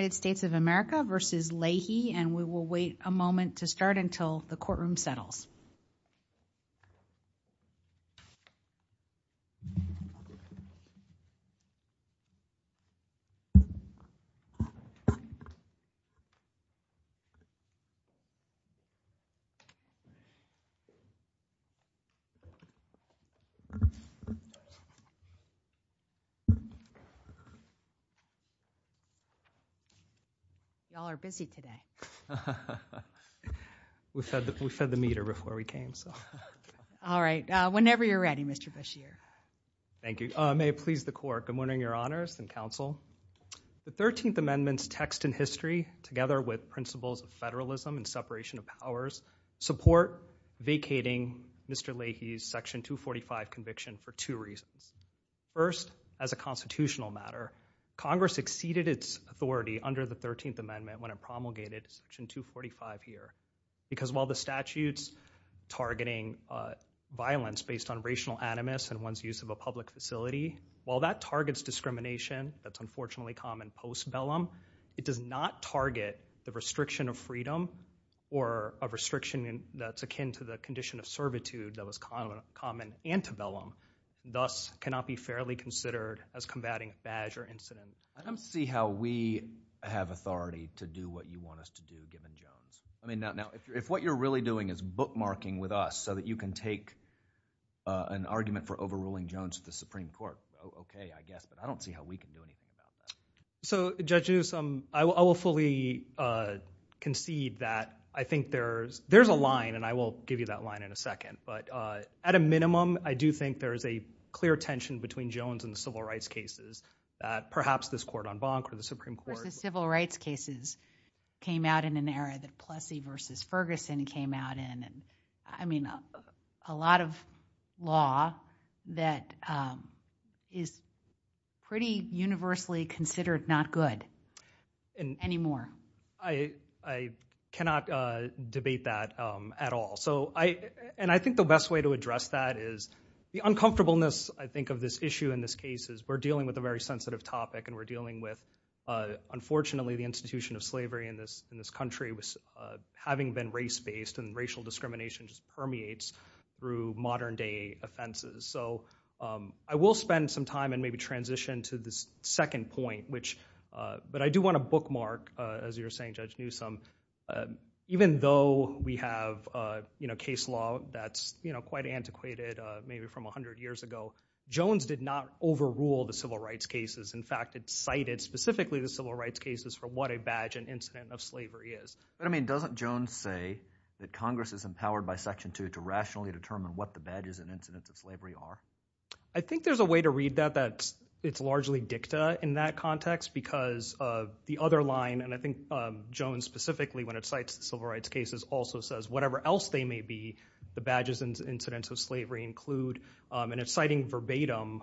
and we will wait a moment to start until the courtroom settles. I'm wondering your honors and counsel, the 13th amendment's text in history together with principles of federalism and separation of powers support vacating Mr. Leahy's section 245 conviction for two reasons. First, as a constitutional matter, Congress exceeded its authority under the 13th amendment when it promulgated section 245 here. Because while the statute's targeting violence based on racial animus and one's use of a public facility, while that targets discrimination, that's unfortunately common post vellum, it does not target the restriction of freedom or a restriction that's akin to the condition of servitude that was common ante vellum, thus cannot be fairly considered as combating badge or incident. I don't see how we have authority to do what you want us to do given Jones. If what you're really doing is bookmarking with us so that you can take an argument for overruling Jones at the Supreme Court, okay, I guess, but I don't see how we can do anything about that. Judge Newsom, I will fully concede that I think there's a line, and I will give you that line in a second, but at a minimum, I do think there's a clear tension between Jones and the civil rights cases that perhaps this court on Bonk or the Supreme Court... Versus civil rights cases came out in an era that Plessy versus Ferguson came out in. I mean, a lot of law that is pretty universally considered not good anymore. I cannot debate that at all. I think the best way to address that is the uncomfortableness, I think, of this issue in this case is we're dealing with a very sensitive topic, and we're dealing with, unfortunately, the institution of slavery in this country having been race-based, and racial discrimination just permeates through modern-day offenses. I will spend some time and maybe transition to this second point, but I do want to bookmark, as you were saying, Judge Newsom, even though we have case law that's quite antiquated, maybe from 100 years ago, Jones did not overrule the civil rights cases. In fact, it cited specifically the civil rights cases for what a badge and incident of slavery is. But, I mean, doesn't Jones say that Congress is empowered by Section 2 to rationally determine what the badges and incidents of slavery are? I think there's a way to read that that's... it's largely dicta in that context because the other line, and I think Jones specifically, when it cites the civil rights cases, also says whatever else they may be, the badges and incidents of slavery include, and it's citing verbatim,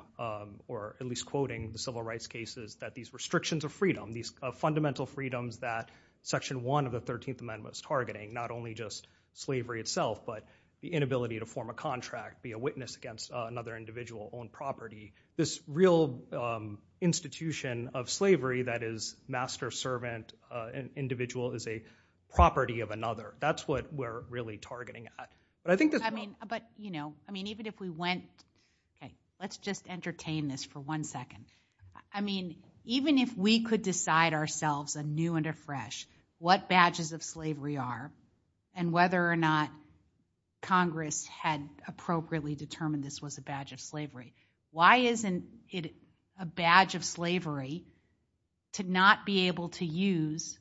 or at least quoting the civil rights cases, that these restrictions of freedom, these fundamental freedoms that Section 1 of the 13th Amendment is targeting, not only just slavery itself, but the inability to form a contract, be a witness against another individual on property. This real institution of slavery that is master-servant, an individual is a property of another. That's what we're really targeting at. But I think this... I mean, but, you know, I mean, even if we went... let's just entertain this for one second. I mean, even if we could decide ourselves, anew and afresh, what badges of slavery are, and whether or not Congress had appropriately determined this was a badge of slavery, why isn't it a badge of slavery to not be able to use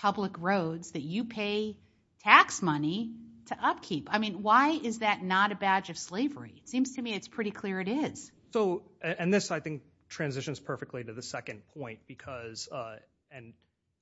public roads that you pay tax money to upkeep? I mean, why is that not a badge of slavery? It seems to me it's pretty clear it is. And this, I think, transitions perfectly to the second point, because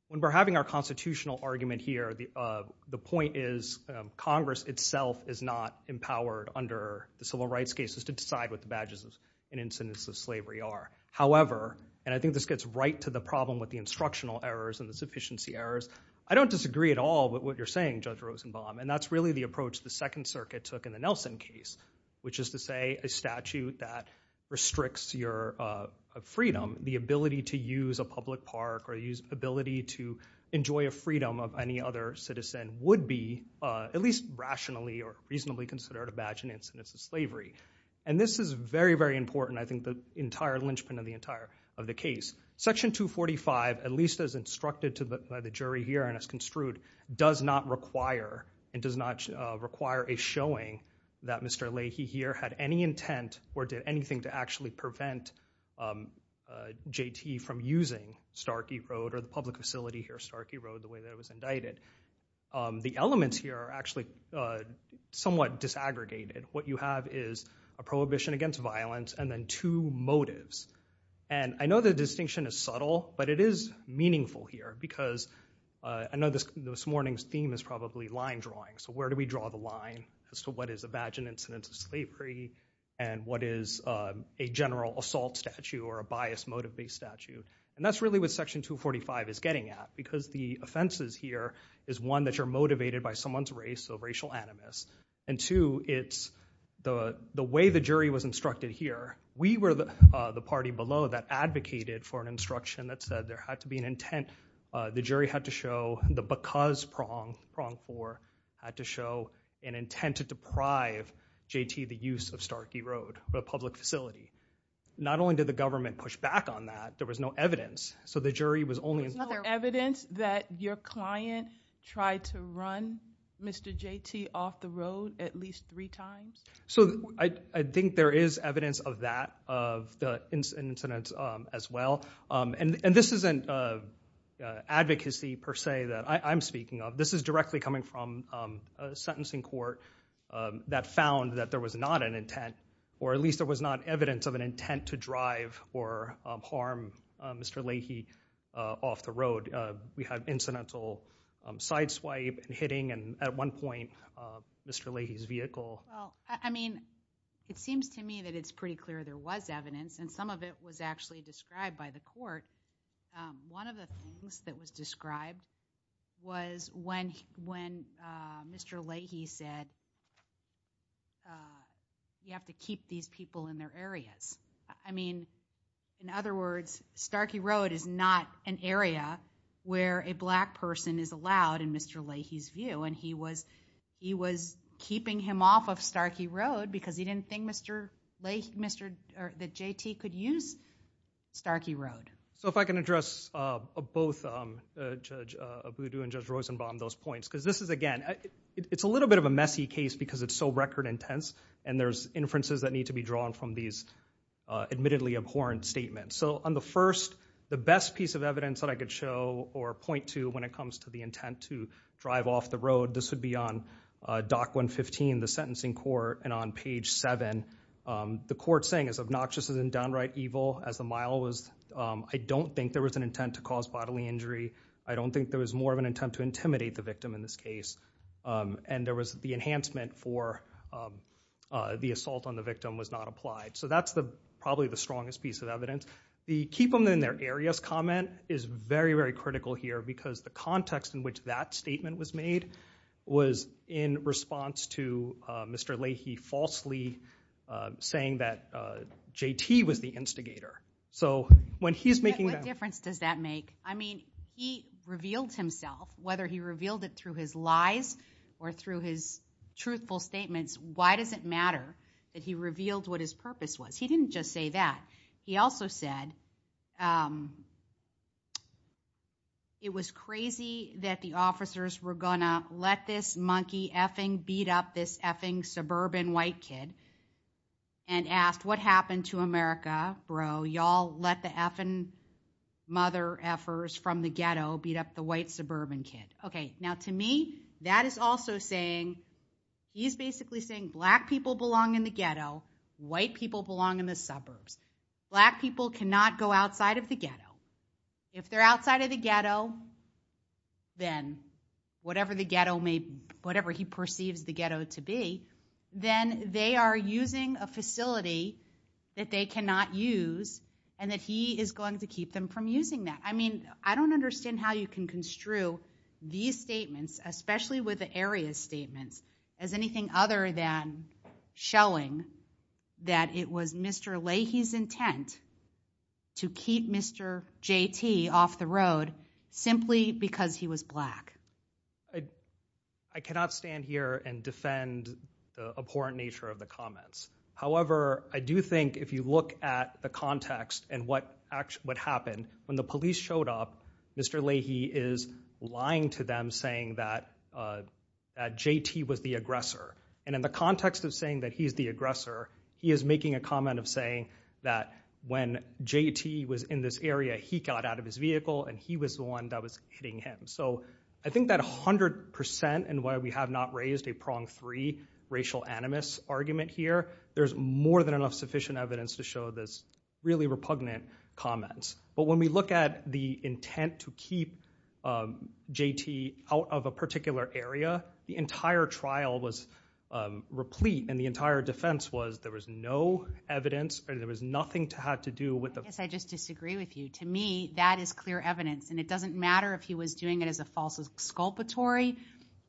when we're having our constitutional argument here, the point is Congress itself is not empowered under the civil rights cases to decide what the badges and incidents of slavery are. However, and I think this gets right to the problem with the instructional errors and the sufficiency errors, I don't disagree at all with what you're saying, Judge Rosenbaum, and that's really the approach the Second Circuit took in the Nelson case, which is to say a statute that restricts your freedom, the ability to use a public park or the ability to enjoy a freedom of any other citizen would be, at least rationally or reasonably considered, a badge and incidents of slavery. And this is very, very important, I think, the entire linchpin of the case. Section 245, at least as instructed by the jury here and as construed, does not require and does not require a showing that Mr. Leahy here had any intent or did anything to actually prevent JT from using Starkey Road or the public facility here, Starkey Road, the way that it was indicted. The elements here are actually somewhat disaggregated. What you have is a prohibition against violence and then two motives. And I know the distinction is subtle, but it is meaningful here because I know this morning's theme is probably line drawing, so where do we draw the line as to what is a badge and incidents of slavery and what is a general assault statute or a bias motive-based statute? And that's really what Section 245 is getting at because the offenses here is, one, that you're motivated by someone's race, so racial animus, and two, it's the way the jury was instructed here. We were the party below that advocated for an instruction that said there had to be an intent. The jury had to show the because prong, prong four, had to show an intent to deprive JT the use of Starkey Road, the public facility. Not only did the government push back on that, there was no evidence. So the jury was only- There's no evidence that your client tried to run Mr. JT off the road at least three times? So I think there is evidence of that, of the incidents as well. And this isn't advocacy per se that I'm speaking of. This is directly coming from a sentencing court that found that there was not an intent, or at least there was not evidence of an intent to drive or harm Mr. Leahy off the road. We had incidental sideswipe and hitting, and at one point, Mr. Leahy's vehicle- I mean, it seems to me that it's pretty clear there was evidence, and some of it was actually described by the court. One of the things that was described was when Mr. Leahy said, you have to keep these people in their areas. I mean, in other words, Starkey Road is not an area where a black person is allowed in Mr. Leahy's view, and he was keeping him off of Starkey Road because he didn't think Mr. Leahy, or that JT could use Starkey Road. So if I can address both Judge Abudu and Judge Rosenbaum those points, because this is again, it's a little bit of a messy case because it's so record intense, and there's inferences that need to be drawn from these admittedly abhorrent statements. So on the first, the best piece of evidence that I could show or point to when it comes to the intent to drive off the road, this would be on Doc 115, the sentencing court, and on page 7, the court's saying it's obnoxious and downright evil, as the mile was, I don't think there was an intent to cause bodily injury. I don't think there was more of an intent to intimidate the victim in this case, and there was the enhancement for the assault on the victim was not applied. So that's probably the strongest piece of evidence. The keep them in their areas comment is very, very critical here because the context in which that statement was made was in response to Mr. Leahy falsely saying that JT was the instigator. So when he's making that- What difference does that make? I mean, he revealed himself, whether he revealed it through his lies or through his truthful statements, why does it matter that he revealed what his purpose was? He didn't just say that. He also said, it was crazy that the officers were going to let this monkey effing beat up this effing suburban white kid and asked, what happened to America, bro? Y'all let the effing mother effers from the ghetto beat up the white suburban kid. Okay. Now to me, that is also saying, he's basically saying black people belong in the ghetto, white people belong in the suburbs. Black people cannot go outside of the ghetto. If they're outside of the ghetto, then whatever the ghetto may, whatever he perceives the ghetto to be, then they are using a facility that they cannot use and that he is going to keep them from using that. I mean, I don't understand how you can construe these statements, especially with the area statements as anything other than showing that it was Mr. Leahy's intent to keep Mr. JT off the road simply because he was black. I cannot stand here and defend the abhorrent nature of the comments. However, I do think if you look at the context and what happened, when the police showed up, Mr. Leahy is lying to them saying that JT was the aggressor. And in the context of saying that he's the aggressor, he is making a comment of saying that when JT was in this area, he got out of his vehicle and he was the one that was hitting him. So I think that 100% in why we have not raised a prong three racial animus argument here, there's more than enough sufficient evidence to show this really repugnant comments. But when we look at the intent to keep JT out of a particular area, the entire trial was replete and the entire defense was there was no evidence and there was nothing to have to do with it. Yes, I just disagree with you. To me, that is clear evidence and it doesn't matter if he was doing it as a false exculpatory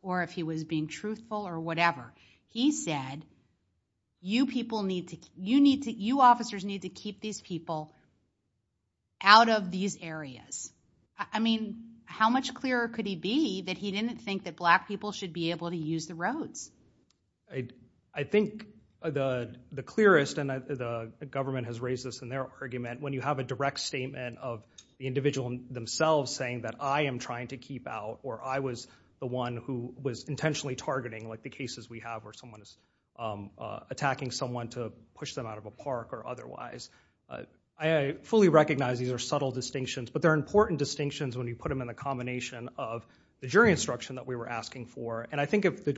or if he was being truthful or whatever. He said, you people need to, you need to, you officers need to keep these people out of these areas. I mean, how much clearer could he be that he didn't think that black people should be able to use the roads? I think the clearest and the government has raised this in their argument, when you have a direct statement of the individual themselves saying that I am trying to keep out or I was the one who was intentionally targeting like the cases we have where someone is attacking someone to push them out of a park or otherwise. I fully recognize these are subtle distinctions, but they're important distinctions when you put them in a combination of the jury instruction that we were asking for. And I think if the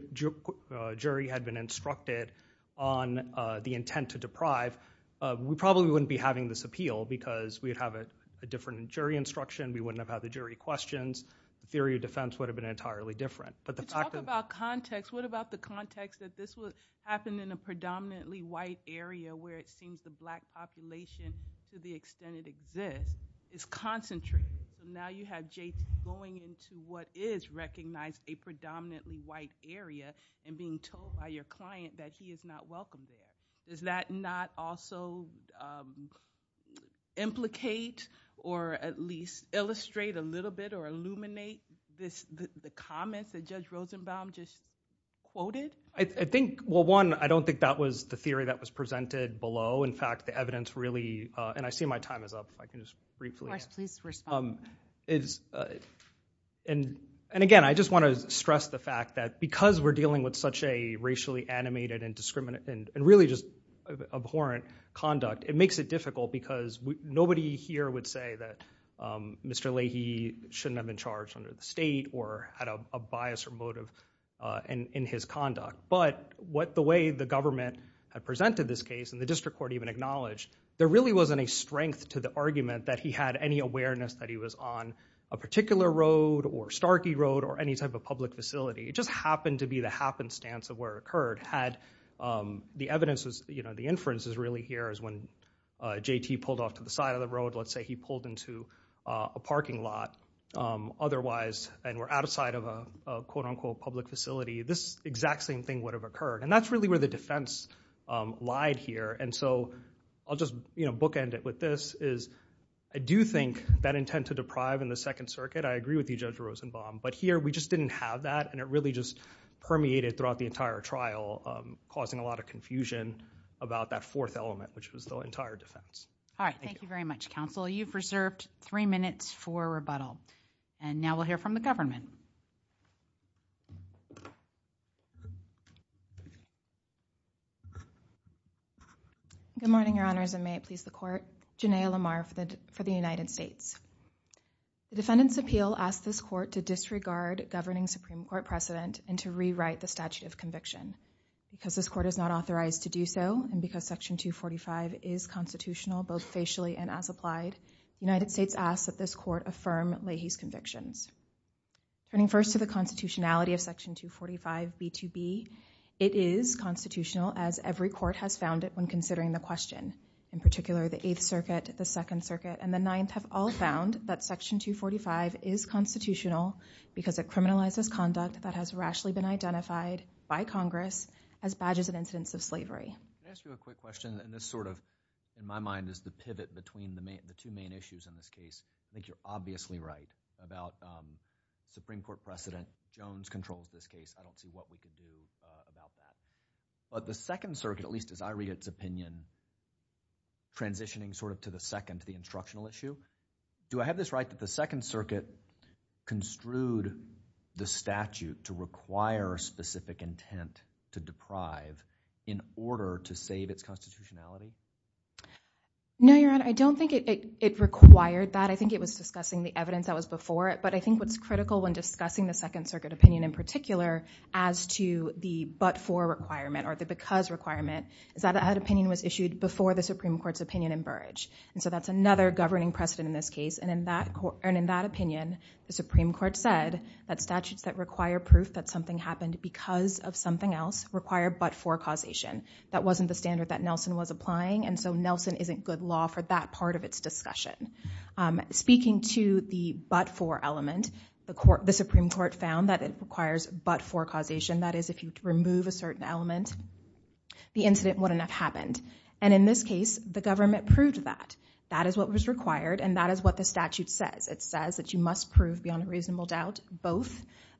jury had been instructed on the intent to deprive, we probably wouldn't be having this appeal because we'd have a different jury instruction. We wouldn't have had the jury questions. Theory of defense would have been entirely different. But the fact that- Talk about context. What about the context that this would happen in a predominantly white area where it seems the black population, to the extent it exists, is concentrated. Now you have Jason going into what is recognized a predominantly white area and being told by your client that he is not welcome there. Does that not also implicate or at least illustrate a little bit or illuminate the comments that Judge Rosenbaum just quoted? I think, well one, I don't think that was the theory that was presented below. In fact, the evidence really, and I see my time is up. I can just briefly- Josh, please respond to that. And again, I just want to stress the fact that because we're dealing with such a racially animated and really just abhorrent conduct, it makes it difficult because nobody here would say that Mr. Leahy shouldn't have been charged under the state or had a bias or motive in his conduct. But the way the government had presented this case and the district court even acknowledged, there really wasn't a strength to the argument that he had any awareness that he was on a particular road or Starkey Road or any type of public facility. It just happened to be the happenstance of where it occurred. The evidence is, the inference is really here is when JT pulled off to the side of the road. Let's say he pulled into a parking lot otherwise and were outside of a quote unquote public facility. This exact same thing would have occurred. And that's really where the defense lied here. And so I'll just bookend it with this is I do think that intent to deprive in the Second Circuit, I agree with you Judge Rosenbaum. But here we just didn't have that and it really just permeated throughout the entire trial causing a lot of confusion about that fourth element, which was the entire defense. All right. Thank you very much, counsel. You've reserved three minutes for rebuttal. And now we'll hear from the government. Good morning, your honors, and may it please the court, Jenea Lamar for the United States. The defendant's appeal asked this court to disregard governing Supreme Court precedent and to rewrite the statute of conviction. Because this court is not authorized to do so, and because Section 245 is constitutional both facially and as applied, the United States asks that this court affirm Leahy's convictions. Turning first to the constitutionality of Section 245B2B, it is constitutional as every court has found it when considering the question, in particular the Eighth Circuit, the Second Circuit has found that Section 245 is constitutional because it criminalizes conduct that has rashly been identified by Congress as badges of incidents of slavery. Can I ask you a quick question? And this sort of, in my mind, is the pivot between the two main issues in this case. I think you're obviously right about Supreme Court precedent. Jones controls this case. I don't see what we could do about that. But the Second Circuit, at least as I read its opinion, transitioning sort of to the second, the instructional issue, do I have this right that the Second Circuit construed the statute to require specific intent to deprive in order to save its constitutionality? No, Your Honor, I don't think it required that. I think it was discussing the evidence that was before it. But I think what's critical when discussing the Second Circuit opinion in particular as to the but for requirement or the because requirement is that that opinion was issued before the Supreme Court's opinion in Burrage. And so that's another governing precedent in this case. And in that opinion, the Supreme Court said that statutes that require proof that something happened because of something else require but for causation. That wasn't the standard that Nelson was applying. And so Nelson isn't good law for that part of its discussion. Speaking to the but for element, the Supreme Court found that it requires but for causation. That is, if you remove a certain element, the incident wouldn't have happened. And in this case, the government proved that. That is what was required. And that is what the statute says. It says that you must prove beyond reasonable doubt both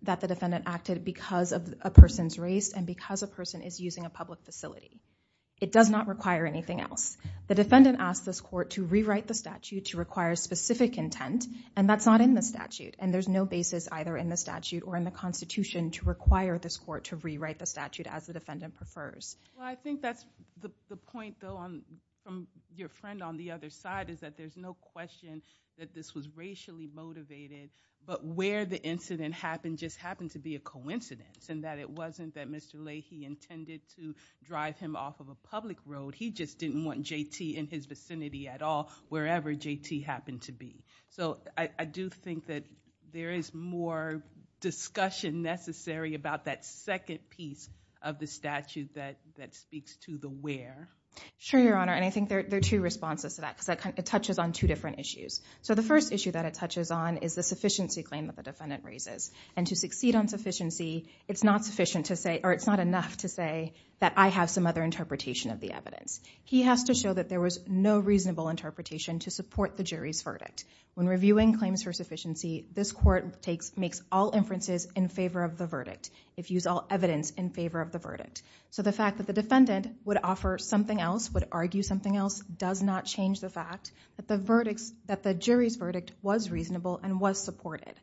that the defendant acted because of a person's race and because a person is using a public facility. It does not require anything else. The defendant asked this court to rewrite the statute to require specific intent. And that's not in the statute. And there's no basis either in the statute or in the constitution to require this court to rewrite the statute as the defendant prefers. Well, I think that's the point, though, from your friend on the other side is that there's no question that this was racially motivated. But where the incident happened just happened to be a coincidence. And that it wasn't that Mr. Leahy intended to drive him off of a public road. He just didn't want JT in his vicinity at all, wherever JT happened to be. So I do think that there is more discussion necessary about that second piece of the statute that speaks to the where. Sure, Your Honor. And I think there are two responses to that. Because it touches on two different issues. So the first issue that it touches on is the sufficiency claim that the defendant raises. And to succeed on sufficiency, it's not sufficient to say, or it's not enough to say, that I have some other interpretation of the evidence. He has to show that there was no reasonable interpretation to support the jury's verdict. When reviewing claims for sufficiency, this court makes all inferences in favor of the So the fact that the defendant would offer something else, would argue something else, does not change the fact that the jury's verdict was reasonable and was supported.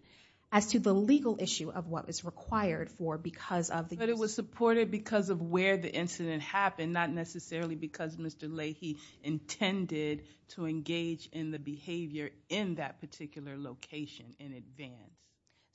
As to the legal issue of what was required for because of the But it was supported because of where the incident happened, not necessarily because Mr. Leahy intended to engage in the behavior in that particular location in advance.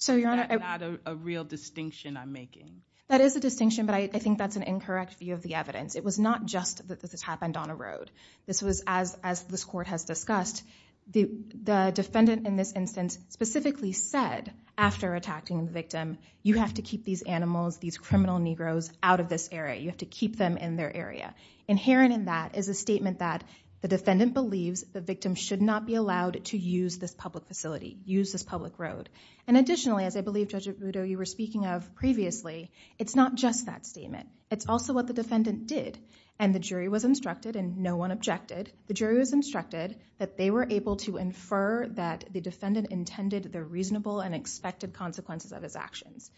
That's not a real distinction I'm making. That is a distinction, but I think that's an incorrect view of the evidence. It was not just that this happened on a road. This was, as this court has discussed, the defendant in this instance specifically said, after attacking the victim, you have to keep these animals, these criminal Negroes, out of this area. You have to keep them in their area. Inherent in that is a statement that the defendant believes the victim should not be allowed to use this public facility, use this public road. Additionally, as I believe Judge Arrudo, you were speaking of previously, it's not just that statement. It's also what the defendant did. The jury was instructed, and no one objected, the jury was instructed that they were able to infer that the defendant intended the reasonable and expected consequences of his actions.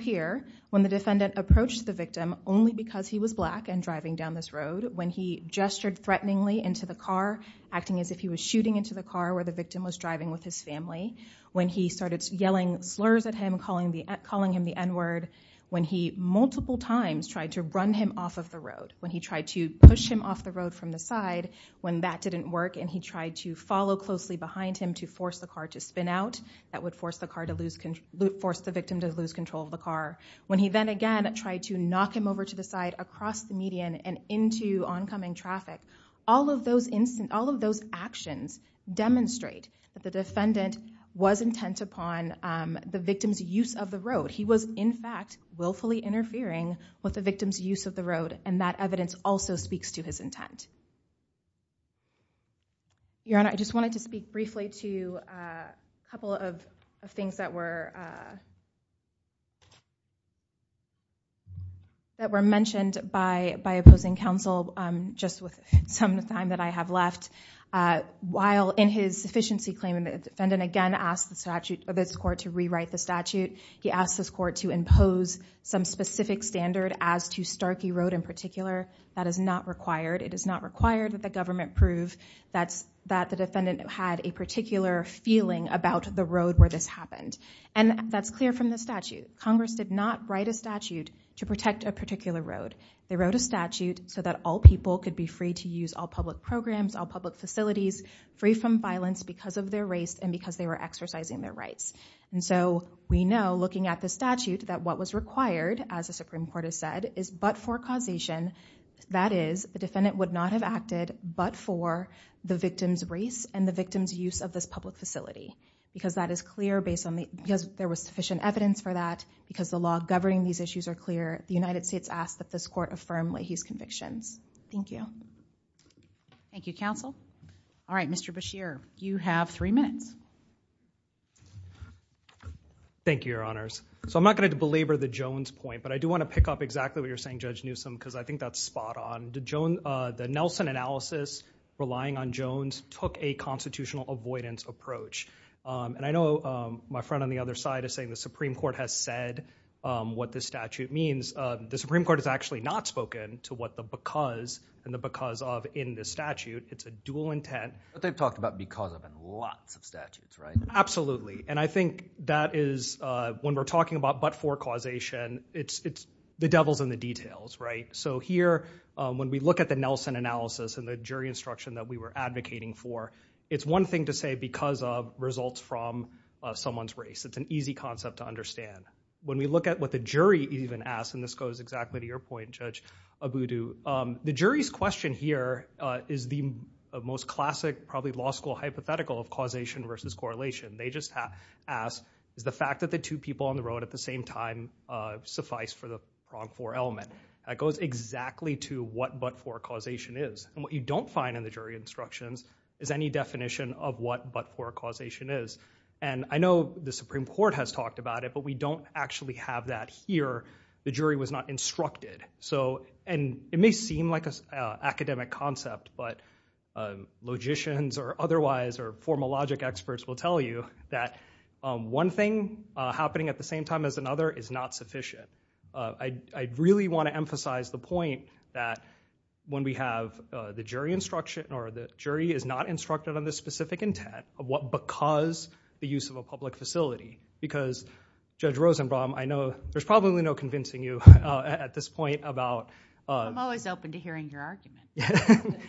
Here, when the defendant approached the victim, only because he was black and driving down this road, when he gestured threateningly into the car, acting as if he was shooting into the car where the victim was driving with his family, when he started yelling slurs at him, calling him the N-word, when he multiple times tried to run him off of the road, when he tried to push him off the road from the side, when that didn't work and he tried to follow closely behind him to force the car to spin out, that would force the victim to lose control of the car, when he then again tried to knock him over to the side across the median and into oncoming traffic, all of those actions demonstrate that the defendant was intent upon the victim's use of the road. He was, in fact, willfully interfering with the victim's use of the road and that evidence also speaks to his intent. Your Honor, I just wanted to speak briefly to a couple of things that were mentioned by opposing counsel, just with some time that I have left. While in his sufficiency claim, the defendant again asked this court to rewrite the statute. He asked this court to impose some specific standard as to Starkey Road in particular. That is not required. It is not required that the government prove that the defendant had a particular feeling about the road where this happened. And that's clear from the statute. Congress did not write a statute to protect a particular road. They wrote a statute so that all people could be free to use all public programs, all public facilities, free from violence because of their race and because they were exercising their rights. And so we know, looking at the statute, that what was required, as the Supreme Court has said, is but for causation. That is, the defendant would not have acted but for the victim's race and the victim's use of this public facility. Because that is clear, because there was sufficient evidence for that, because the law governing these issues are clear, the United States asks that this court affirm Leahy's convictions. Thank you. Thank you, counsel. All right, Mr. Beshear, you have three minutes. Thank you, Your Honors. So I'm not going to belabor the Jones point, but I do want to pick up exactly what you're saying, Judge Newsom, because I think that's spot on. The Nelson analysis, relying on Jones, took a constitutional avoidance approach. And I know my friend on the other side is saying the Supreme Court has said what this statute means. The Supreme Court has actually not spoken to what the because and the because of in this statute. It's a dual intent. But they've talked about because of in lots of statutes, right? Absolutely. And I think that is, when we're talking about but for causation, it's the devil's in the details, right? So here, when we look at the Nelson analysis and the jury instruction that we were advocating for, it's one thing to say because of results from someone's race. It's an easy concept to understand. When we look at what the jury even asked, and this goes exactly to your point, Judge Abudu, the jury's question here is the most classic, probably law school hypothetical of causation versus correlation. They just asked, is the fact that the two people on the road at the same time suffice for the wrong four element? That goes exactly to what but for causation is. And what you don't find in the jury instructions is any definition of what but for causation is. And I know the Supreme Court has talked about it, but we don't actually have that here. The jury was not instructed. And it may seem like an academic concept, but logicians or otherwise or formal logic experts will tell you that one thing happening at the same time as another is not sufficient. I really want to emphasize the point that when we have the jury instruction or the jury is not instructed on the specific intent of what because the use of a public facility because Judge Rosenbaum I know there's probably no convincing you at this point about I'm always open to hearing your argument.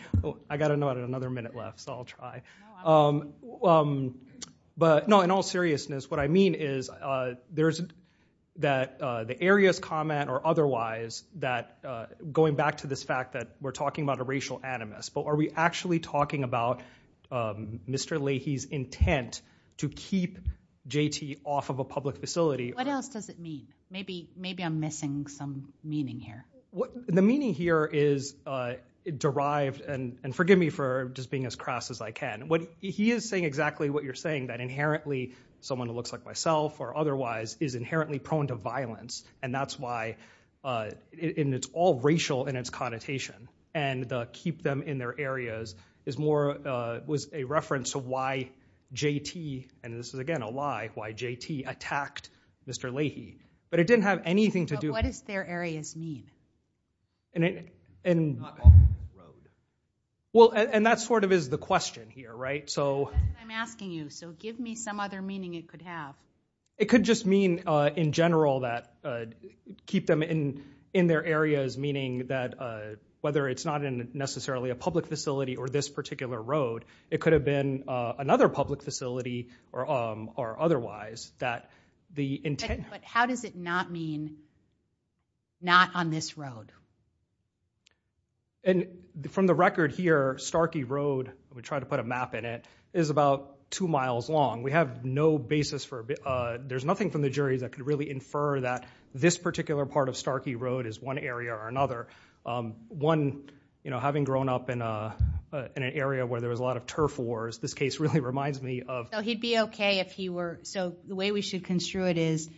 I got another minute left so I'll try. But no in all seriousness what I mean is there's that the area's comment or otherwise that going back to this fact that we're talking about a racial animus but are we actually talking about Mr. Leahy's intent to keep JT off of a public facility? What else does it mean? Maybe I'm missing some meaning here. The meaning here is derived and forgive me for just being as crass as I can. He is saying exactly what you're saying that inherently someone who looks like myself or otherwise is inherently prone to violence and that's why it's all racial in its connotation and the keep them in their areas is more was a reference to why JT and this is again a lie, why JT attacked Mr. Leahy but it didn't have anything to do. But what does their areas mean? And Well and that sort of is the question here right so. That's what I'm asking you so give me some other meaning it could have. It could just mean in general that keep them in in their areas meaning that whether it's not in necessarily a public facility or this particular road it could have been another public facility or otherwise that the intent but how does it not mean not on this road? And from the record here Starkey Road we try to put a map in it is about two miles long. We have no basis for there's nothing from the jury that could really infer that this particular part of Starkey Road is one area or another one having grown up in an area where there was a lot of turf wars this case really reminds me of. So he'd be okay if he were so the way we should construe it is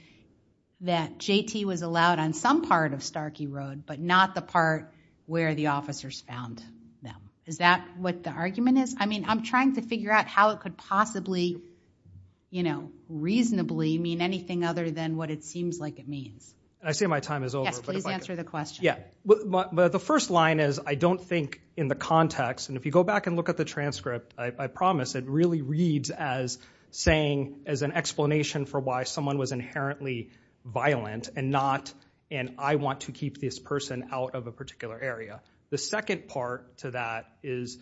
that JT was allowed on some part of Starkey Road but not the part where the officers found them. Is that what the argument is? I mean I'm trying to figure out how it could possibly you know reasonably mean anything other than what it seems like it means. I say my time is over. Please answer the question. The first line is I don't think in the context and if you go back and look at the transcript I promise it really reads as saying as an explanation for why someone was inherently violent and not and I want to keep this person out of a particular area. The second part to that is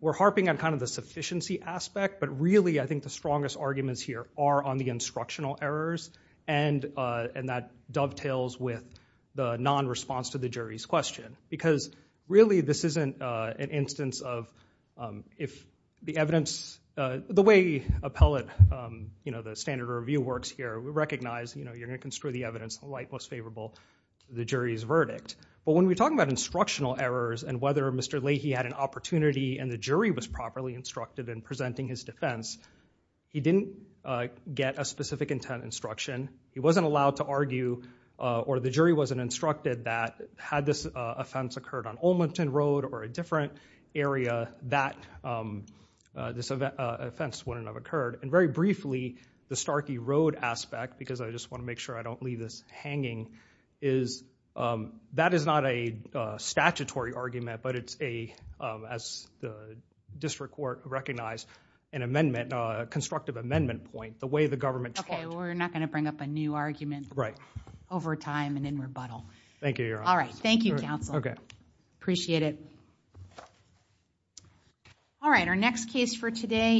we're harping on kind of the sufficiency aspect but really I think the strongest arguments here are on the instructional errors and that dovetails with the non-response to the jury's question because really this isn't an instance of if the evidence the way appellate you know the standard review works here recognize you're going to construe the evidence the light most favorable to the jury's verdict. But when we talk about instructional errors and whether Mr. Leahy had an opportunity and the jury was properly instructed in presenting his defense he didn't get a he wasn't allowed to argue or the jury wasn't instructed that had this offense occurred on Olmington Road or a different area that this offense wouldn't have occurred and very briefly the Starkey Road aspect because I just want to make sure I don't leave this hanging is that is not a statutory argument but it's a as the district court recognized an amendment a constructive amendment point the way the government talked we're not going to bring up a new argument over time and in rebuttal alright thank you counsel appreciate it alright our next case for today